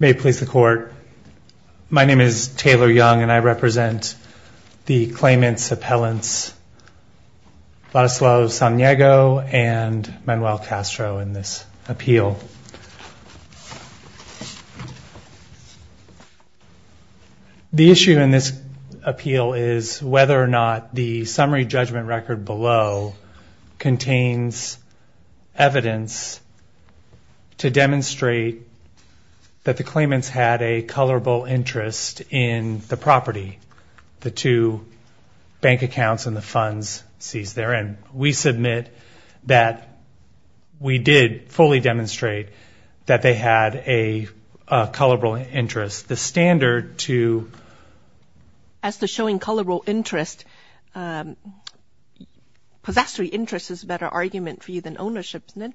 May it please the court, my name is Taylor Young and I represent the claimants, appellants, Ladislao Samaniego and Manuel Castro in this appeal. The issue in this appeal is whether or not the summary judgment record below contains evidence to demonstrate that the claimants had a colorable interest in the property, the two bank accounts and the funds seized therein. We submit that we did fully demonstrate that they had a colorable interest. The standard to as to showing colorable interest, possessory interest is a better argument for you than ownership isn't it?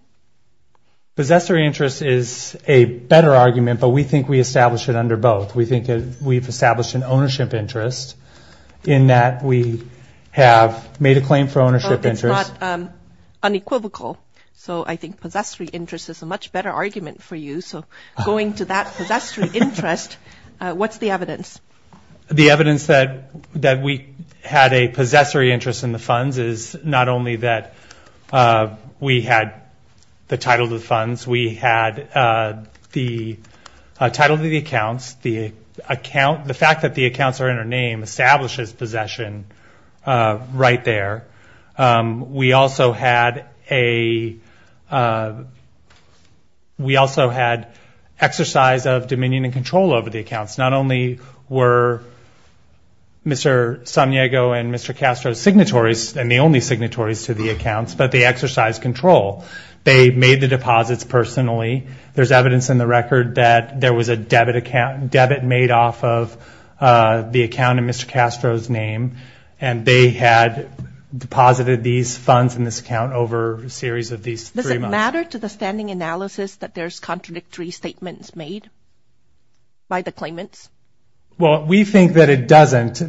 Possessory interest is a better argument but we think we established it under both. We think we've established an ownership interest in that we have made a claim for ownership interest. But it's not unequivocal so I think possessory interest is a much better argument for you so going to that The evidence that we had a possessory interest in the funds is not only that we had the title of the funds, we had the title of the accounts, the account, the fact that the accounts are in our name establishes possession right there. We also had a, we also had exercise of dominion and control over the accounts not only were Mr. Samiego and Mr. Castro's signatories and the only signatories to the accounts but the exercise control. They made the deposits personally. There's evidence in the record that there was a debit account, debit made off of the account in Mr. Castro's name and they had deposited these funds in this account over a series of these three months. Does it matter to the Well we think that it doesn't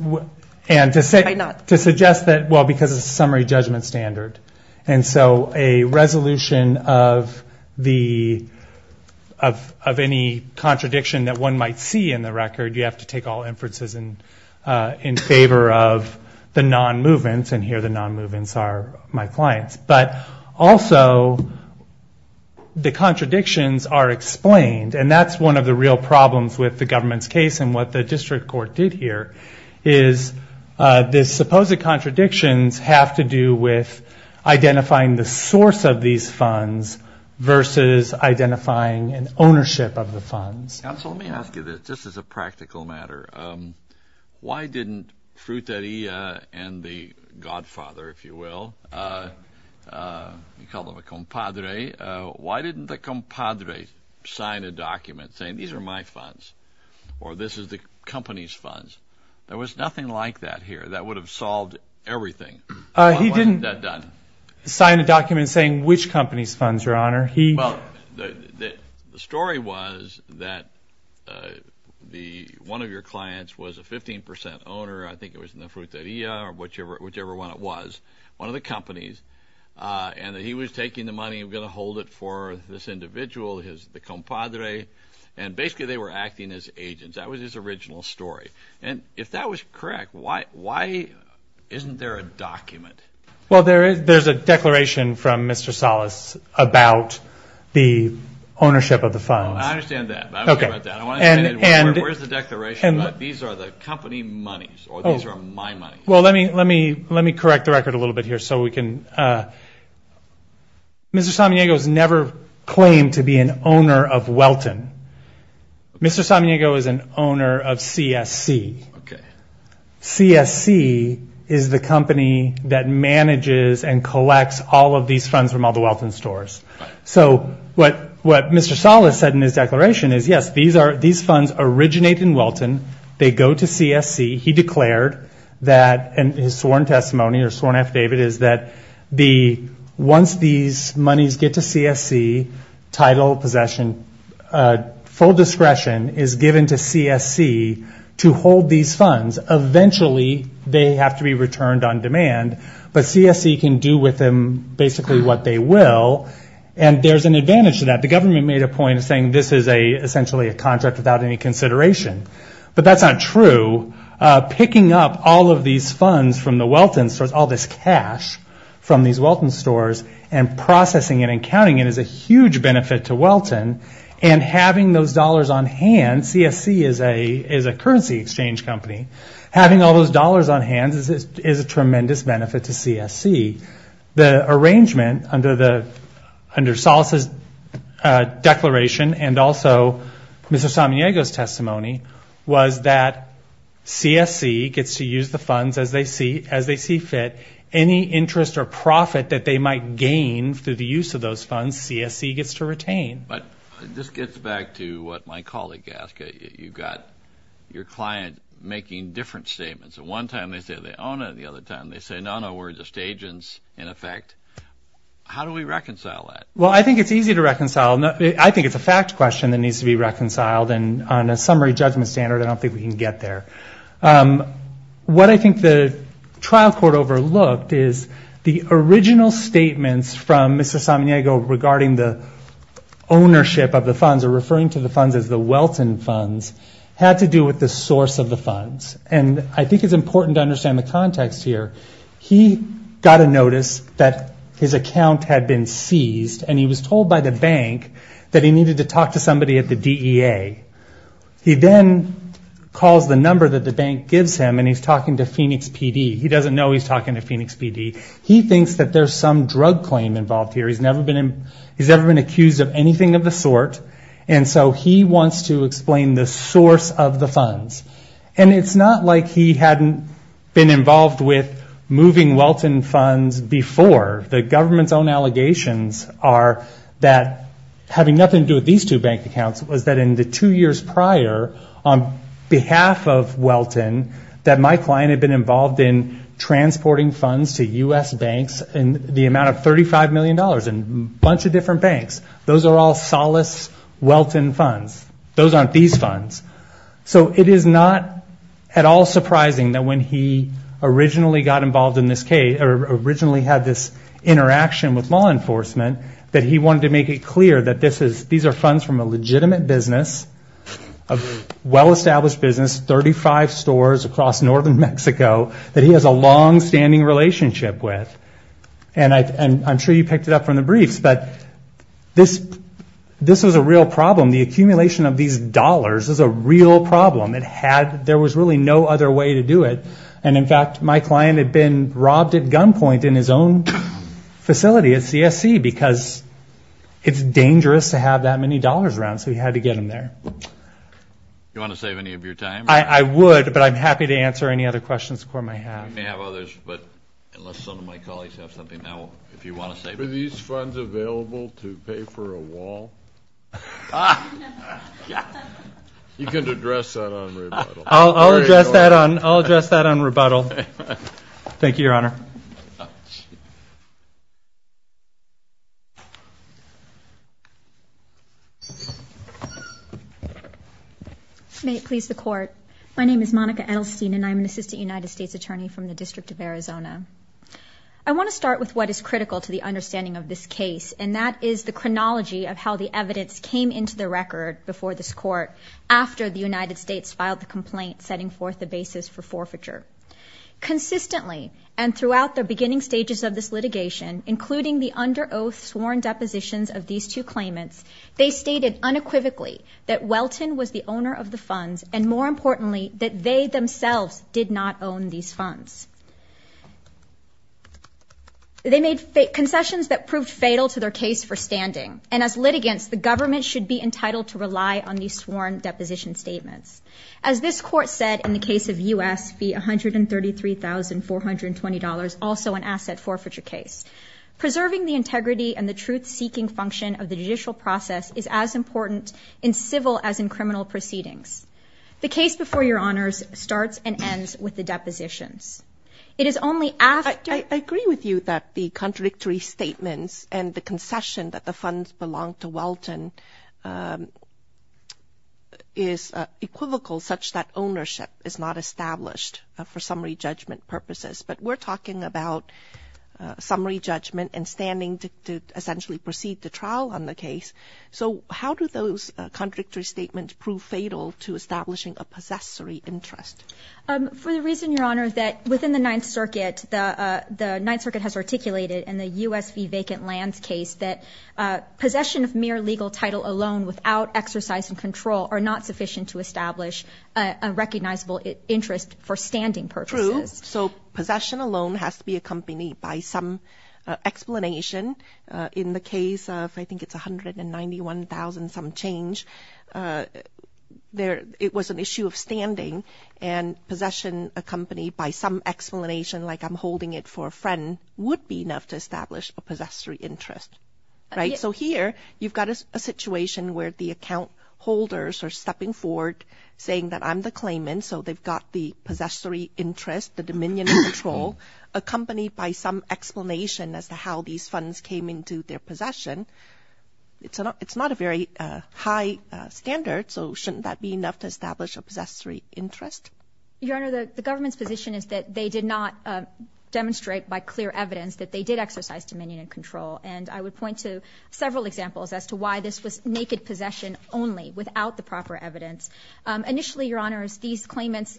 and to say not to suggest that well because of summary judgment standard and so a resolution of the of any contradiction that one might see in the record you have to take all inferences and in favor of the non-movements and here the non-movements are my clients but also the contradictions are explained and that's one of the real problems with the government's case and what the district court did here is this supposed contradictions have to do with identifying the source of these funds versus identifying an ownership of the funds. Counsel let me ask you this just as a practical matter. Why didn't Frutaria and the godfather if you will, you call them a compadre, why didn't the compadre sign a document saying these are my or this is the company's funds? There was nothing like that here that would have solved everything. He didn't sign a document saying which company's funds your honor. Well the story was that the one of your clients was a 15% owner I think it was in the Frutaria or whichever whichever one it was one of the companies and he was taking the money I'm gonna hold it for this compadre and basically they were acting as agents that was his original story and if that was correct why why isn't there a document? Well there is there's a declaration from Mr. Salas about the ownership of the funds. I understand that. Where's the declaration? These are the company monies or these are my money. Well let me let me let me correct the record a little bit here so we can Mr. Samaniego's never claimed to be an owner of Welton. Mr. Samaniego is an owner of CSC. Okay. CSC is the company that manages and collects all of these funds from all the Welton stores. So what what Mr. Salas said in his declaration is yes these are these funds originate in Welton they go to CSC he declared that and his sworn testimony or sworn affidavit is that the once these monies get to CSC title possession full discretion is given to CSC to hold these funds eventually they have to be returned on demand but CSC can do with them basically what they will and there's an advantage to that the government made a point of saying this is a essentially a contract without any consideration but that's not true. Picking up all of these funds from the Welton stores and processing it and counting it is a huge benefit to Welton and having those dollars on hand CSC is a is a currency exchange company having all those dollars on hands is a tremendous benefit to CSC. The arrangement under the under Salas's declaration and also Mr. Samaniego's testimony was that CSC gets to use the funds as they see as they see fit any interest or profit that they might gain through the use of those funds CSC gets to retain. But this gets back to what my colleague asked you got your client making different statements at one time they say they own it the other time they say no no we're just agents in effect how do we reconcile that? Well I think it's easy to reconcile I think it's a fact question that needs to be reconciled and on a summary judgment standard I don't think we can get there what I think the trial court overlooked is the original statements from Mr. Samaniego regarding the ownership of the funds or referring to the funds as the Welton funds had to do with the source of the funds and I think it's important to understand the context here he got a notice that his account had been seized and he was told by the bank that he needed to talk to somebody at the DEA he then calls the number that the bank gives him and he's talking to Phoenix PD he doesn't know he's talking to Phoenix PD he thinks that there's some drug claim involved here he's never been accused of anything of the sort and so he wants to explain the source of the funds and it's not like he hadn't been involved with moving Welton funds before the government's own allegations are that having nothing to do with these two bank accounts was that in the two years prior on behalf of Welton that my client had been involved in transporting funds to US banks and the amount of thirty five million dollars and a bunch of different banks those are all solace Welton funds those aren't these funds so it is not at all surprising that when he originally got involved in this case or originally had this interaction with law enforcement that he wanted to make it that this is these are funds from a legitimate business of well-established business 35 stores across northern Mexico that he has a long-standing relationship with and I'm sure you picked it up from the briefs but this this was a real problem the accumulation of these dollars is a real problem it had there was really no other way to do it and in fact my client had been robbed at gunpoint in his own facility at CSC because it's dangerous to have that many dollars around so he had to get him there you want to save any of your time I would but I'm happy to answer any other questions for my have these funds available to pay for a wall you can address that on I'll address that on rebuttal thank you your honor may it please the court my name is Monica Edelstein and I'm an assistant United States attorney from the District of Arizona I want to start with what is critical to the understanding of this case and that is the chronology of how the evidence came into the record before this court after the United States filed the complaint setting forth the basis for forfeiture consistently and throughout the beginning stages of this litigation including the under oath sworn depositions of these two claimants they stated unequivocally that Welton was the owner of the funds and more importantly that they themselves did not own these funds they made fake concessions that proved fatal to their case for standing and as litigants the government should be entitled to rely on as this court said in the case of u.s. be a hundred and thirty three thousand four hundred and twenty dollars also an asset forfeiture case preserving the integrity and the truth-seeking function of the judicial process is as important in civil as in criminal proceedings the case before your honors starts and ends with the depositions it is only after I agree with you that the contradictory statements and the concession that the funds belong to Welton is equivocal such that ownership is not established for summary judgment purposes but we're talking about summary judgment and standing to essentially proceed to trial on the case so how do those contradictory statements prove fatal to establishing a possessory interest for the reason your honor that within the Ninth Circuit the the Ninth Circuit has articulated in the US be vacant lands case that possession of mere legal title alone without exercise and control are not sufficient to establish a recognizable interest for standing purposes so possession alone has to be accompanied by some explanation in the case of I think it's a hundred and ninety one thousand some change there it was an issue of standing and possession accompanied by some explanation like I'm holding it for a friend would be enough to establish a possessory interest right so here you've got a situation where the account holders are stepping forward saying that I'm the claimant so they've got the possessory interest the Dominion control accompanied by some explanation as to how these funds came into their possession it's not it's not a very high standard so shouldn't that be enough to establish a possessory interest your honor the government's position is that they did not demonstrate by clear evidence that they did exercise Dominion and control and I would point to several examples as to why this was naked possession only without the proper evidence initially your honors these claimants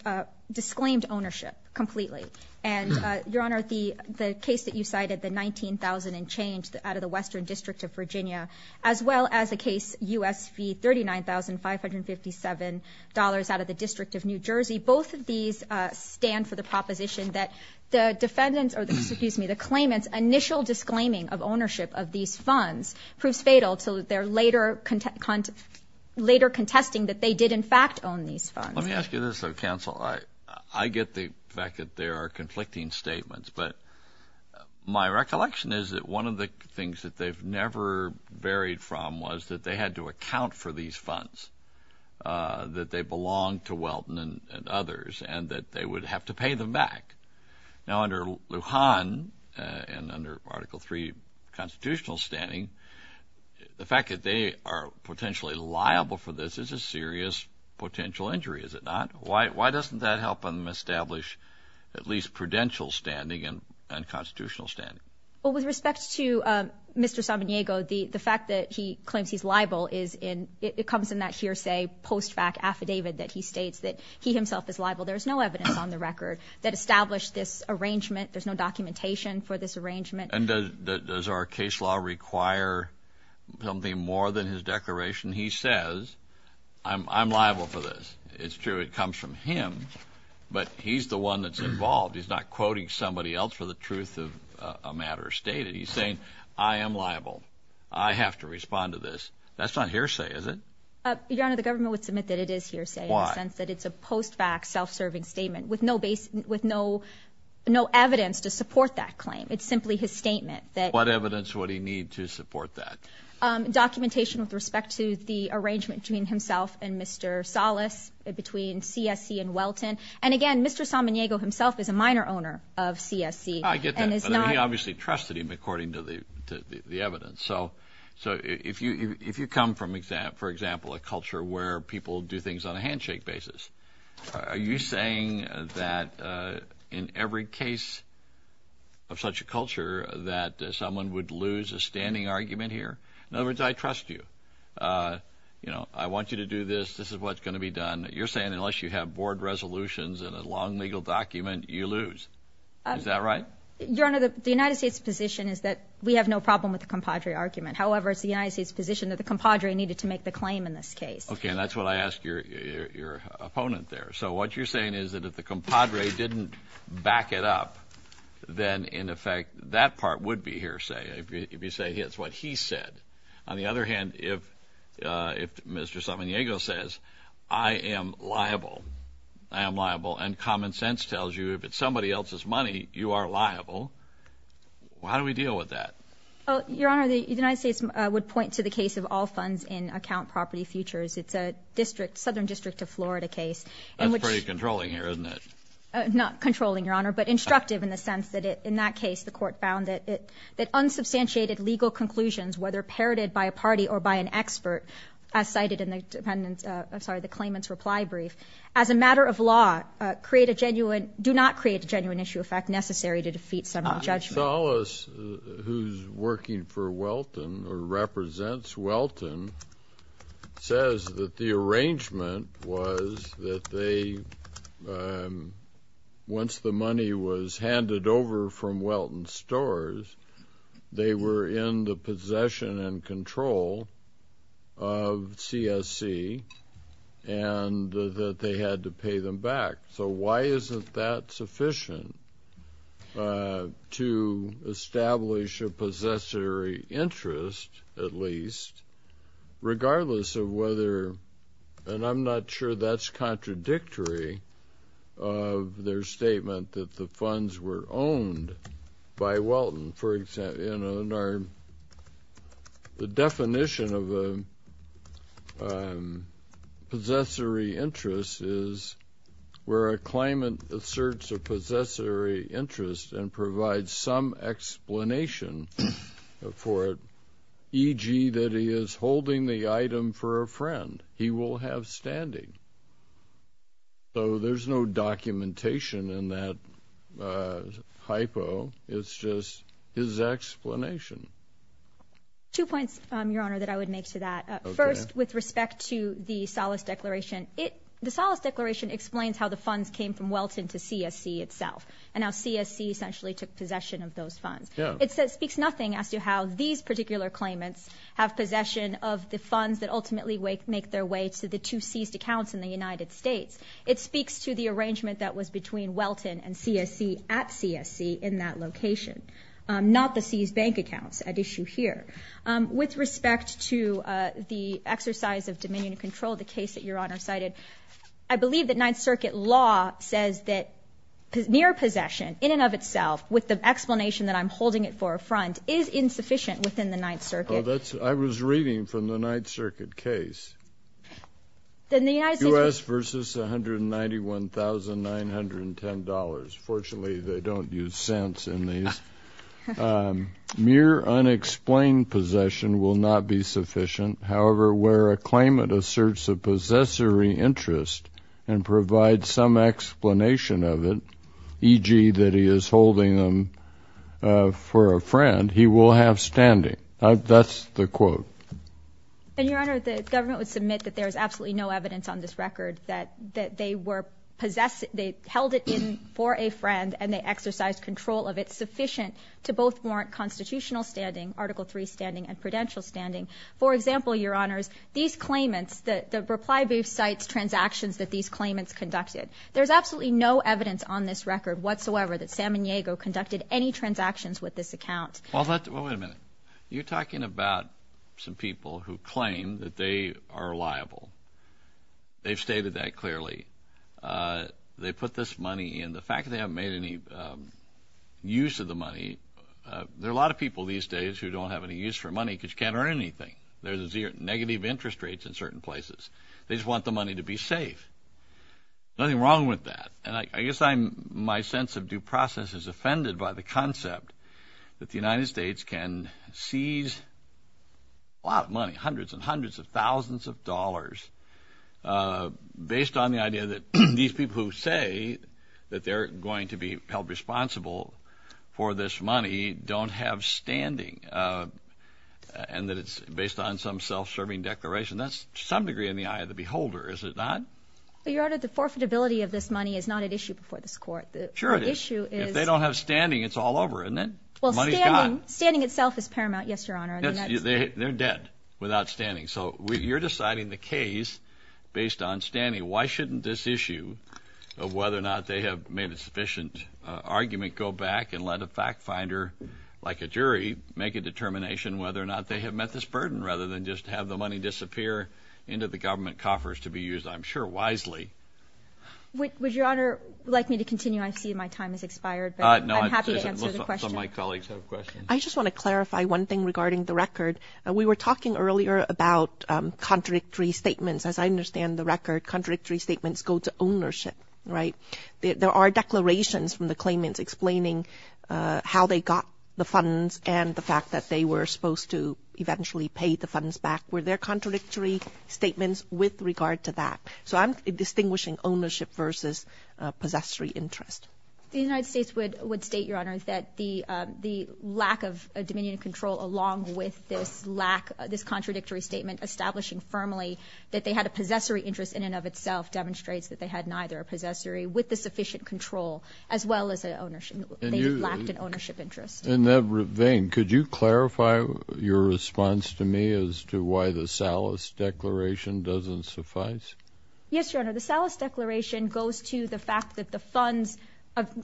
disclaimed ownership completely and your honor the the case that you cited the 19,000 and change that out of the Western District of Virginia as well as the case USP thirty nine thousand five hundred fifty seven dollars out of the District of New Jersey both of these stand for the proposition that the defendants or the excuse me the claimants initial disclaiming of ownership of these funds proves fatal to their later contest content later contesting that they did in fact own these funds let me ask you this of counsel I I get the fact that there are conflicting statements but my recollection is that one of the things that they've never varied from was that they had to account for these funds that they belong to Welton and others and that they would have to pay them back now under Lujan and under article 3 constitutional standing the fact that they are potentially liable for this is a serious potential injury is it not why doesn't that help them establish at least prudential standing and unconstitutional standing well with respect to mr. Samaniego the the fact that he claims he's liable is in it comes in that hearsay post back affidavit that he states that he himself is liable there's no evidence on the record that established this arrangement there's no documentation for this arrangement and does our case law require something more than his declaration he says I'm liable for this it's true it comes from him but he's the one that's involved he's not quoting somebody else for the truth of a matter stated he's saying I am liable I have to respond to this that's not hearsay is it your honor the government would submit that it is hearsay since that it's a post back self-serving statement with no base with no no evidence to support that claim it's simply his statement that what evidence would he need to support that documentation with respect to the arrangement between himself and mr. solace between CSC and Welton and again mr. Samaniego himself is a minor owner of CSC I get that he obviously trusted him according to the evidence so so if you if you come from exam for example a do things on a handshake basis are you saying that in every case of such a culture that someone would lose a standing argument here in other words I trust you you know I want you to do this this is what's going to be done you're saying unless you have board resolutions and a long legal document you lose is that right your honor the United States position is that we have no problem with the compadre argument however it's the United States position that the compadre needed to make the claim in this case okay that's what I asked your opponent there so what you're saying is that if the compadre didn't back it up then in effect that part would be hearsay if you say it's what he said on the other hand if if mr. Samaniego says I am liable I am liable and common sense tells you if it's somebody else's money you are liable how do we deal with that oh your honor the United States would point to the case of all funds in account property futures it's a district southern district of Florida case I'm pretty controlling here isn't it not controlling your honor but instructive in the sense that it in that case the court found that it that unsubstantiated legal conclusions whether parroted by a party or by an expert as cited in the dependence I'm sorry the claimants reply brief as a matter of law create a genuine do not create a genuine issue effect necessary to defeat some judge dollars who's working for wealth and represents Welton says that the arrangement was that they once the money was handed over from Welton stores they were in the possession and control of CSC and that they had to pay them back so why isn't that sufficient to establish a possessory interest at least regardless of whether and I'm not sure that's contradictory of their statement that the funds were owned by Welton for example in our the definition of a possessory interest is where a explanation for e.g. that he is holding the item for a friend he will have standing so there's no documentation in that hypo it's just his explanation two points your honor that I would make to that first with respect to the solace declaration it the solace declaration explains how the funds came from Welton to CSC itself and now CSC essentially took possession of those funds it says speaks nothing as to how these particular claimants have possession of the funds that ultimately wake make their way to the two seized accounts in the United States it speaks to the arrangement that was between Welton and CSC at CSC in that location not the seized bank accounts at issue here with respect to the exercise of dominion control the case that your honor cited I near possession in and of itself with the explanation that I'm holding it for a front is insufficient within the Ninth Circuit that's I was reading from the Ninth Circuit case then the US versus 191 thousand nine hundred and ten dollars fortunately they don't use sense in these mere unexplained possession will not be sufficient however where a claimant asserts a possessory interest and provide some explanation of it e.g. that he is holding them for a friend he will have standing that's the quote and your honor the government would submit that there's absolutely no evidence on this record that that they were possessed they held it in for a friend and they exercised control of it sufficient to both warrant constitutional standing article 3 standing and prudential standing for example your honors these claimants that the reply sites transactions that these claimants conducted there's absolutely no evidence on this record whatsoever that Sam and Diego conducted any transactions with this account you're talking about some people who claim that they are liable they've stated that clearly they put this money in the fact they haven't made any use of the money there are a lot of people these days who don't have any use for money because you can't earn anything there's a zero negative interest rates in certain places they just want the money to be safe nothing wrong with that and I guess I'm my sense of due process is offended by the concept that the United States can seize a lot of money hundreds and hundreds of thousands of dollars based on the idea that these people who say that they're going to be held responsible for this money don't have standing and that it's based on some self-serving declaration that's some degree in the eye of the beholder is it not the order the forfeit ability of this money is not an issue for this court the issue is they don't have standing it's all over and then standing itself is paramount yes your honor they're dead without standing so we're deciding the case based on standing why shouldn't this issue of whether or not they have made a sufficient argument go back and let a fact finder like a jury make a determination whether or not they have met this burden rather than just have the money disappear into the government coffers to be used I'm sure wisely would your honor like me to continue I see my time is expired I just want to clarify one thing regarding the record we were talking earlier about contradictory statements as I understand the record contradictory statements go to ownership right there are declarations from the claimants explaining how they got the funds and the fact that they were supposed to eventually pay the funds back where their contradictory statements with regard to that so I'm distinguishing ownership versus possessory interest the United States would would state your honor that the the lack of a dominion control along with this lack this contradictory statement establishing firmly that they had a possessory interest in and of itself demonstrates that they had neither a possessory with the sufficient control as well as an ownership interest in that vein could you clarify your response to me as to why the sallis declaration doesn't suffice yes your honor the sallis declaration goes to the fact that the funds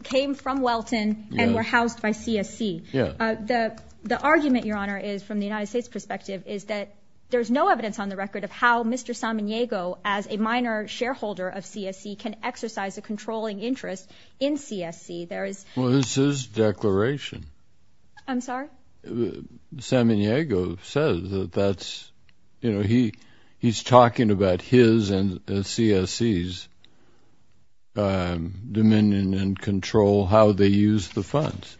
came from Welton and were housed by CSC yeah the the argument your honor is from the United States perspective is that there's no evidence on the record of how mr. Samaniego as a minor shareholder of CSC can exercise a controlling interest in CSC there is well this is declaration I'm sorry Samaniego says that that's you know he he's talking about his and CSC's dominion and control how they use the funds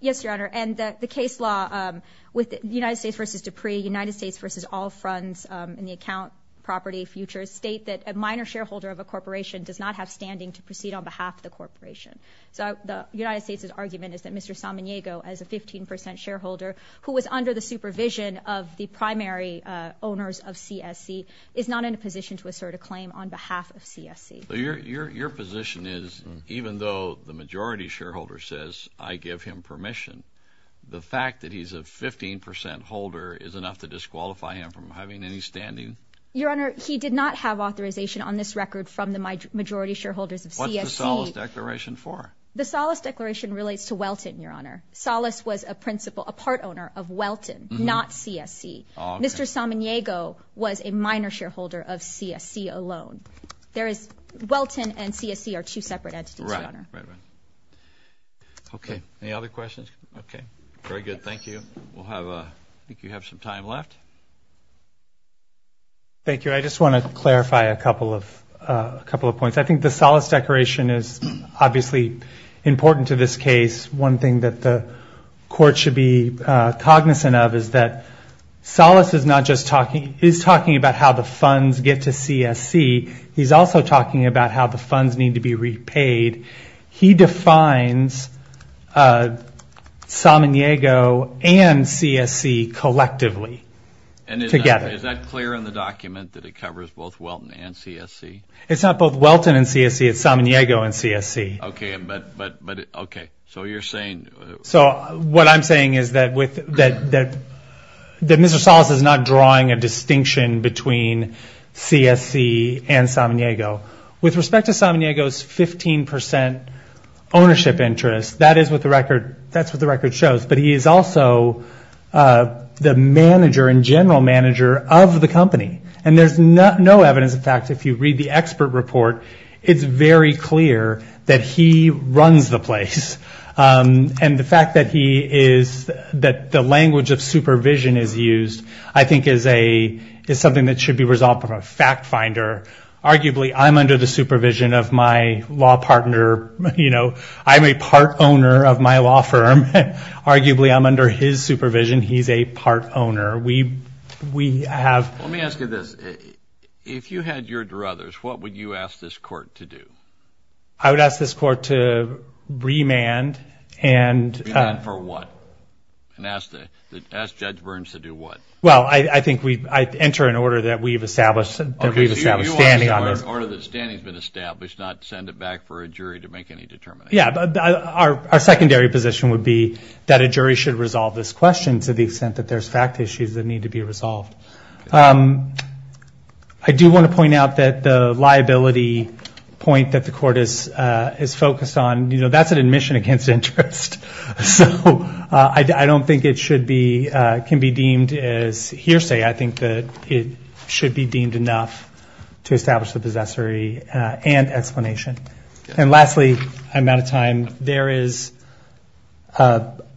yes your honor and the case law with the United States versus Dupree United States versus all funds in the account property futures state that a shareholder of a corporation does not have standing to proceed on behalf of the corporation so the United States's argument is that mr. Samaniego as a 15% shareholder who was under the supervision of the primary owners of CSC is not in a position to assert a claim on behalf of CSC your position is even though the majority shareholder says I give him permission the fact that he's a 15% holder is enough to disqualify him from having any standing your honor he did not have authorization on this record from the majority shareholders of CSC declaration for the solace declaration relates to Welton your honor solace was a principal a part owner of Welton not CSC mr. Samaniego was a minor shareholder of CSC alone there is Welton and CSC are two separate entities okay any other questions okay very good thank you we'll have a think you have some time left thank you I just want to clarify a couple of a couple of points I think the solace declaration is obviously important to this case one thing that the court should be cognizant of is that solace is not just talking he's talking about how the funds get to CSC he's also talking about how the together is that clear in the document that it covers both Welton and CSC it's not both Welton and CSC it's Samaniego and CSC okay but but okay so you're saying so what I'm saying is that with that that that mr. solace is not drawing a distinction between CSC and Samaniego with respect to Samaniego's 15% ownership interest that is what the record that's what the record shows but he is also the manager in general manager of the company and there's not no evidence in fact if you read the expert report it's very clear that he runs the place and the fact that he is that the language of supervision is used I think is a is something that should be resolved from a fact finder arguably I'm under the supervision of my law partner you know I'm a part owner of my law firm arguably I'm under his supervision he's a part owner we we have let me ask you this if you had your druthers what would you ask this court to do I would ask this court to remand and for what and ask the judge Burns to do what well I think we enter an order that we've established standing on this order that standing has been established not send it back for a jury to make any yeah but our secondary position would be that a jury should resolve this question to the extent that there's fact issues that need to be resolved I do want to point out that the liability point that the court is is focused on you know that's an admission against interest so I don't think it should be can be deemed as hearsay I think that it should be deemed enough to establish the I'm out of time there is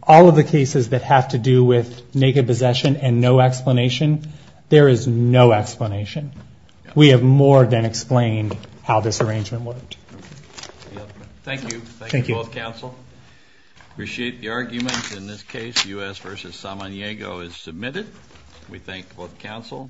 all of the cases that have to do with naked possession and no explanation there is no explanation we have more than explained how this arrangement worked thank you thank you both counsel appreciate the arguments in this case u.s. versus someone Diego is submitted we thank both counsel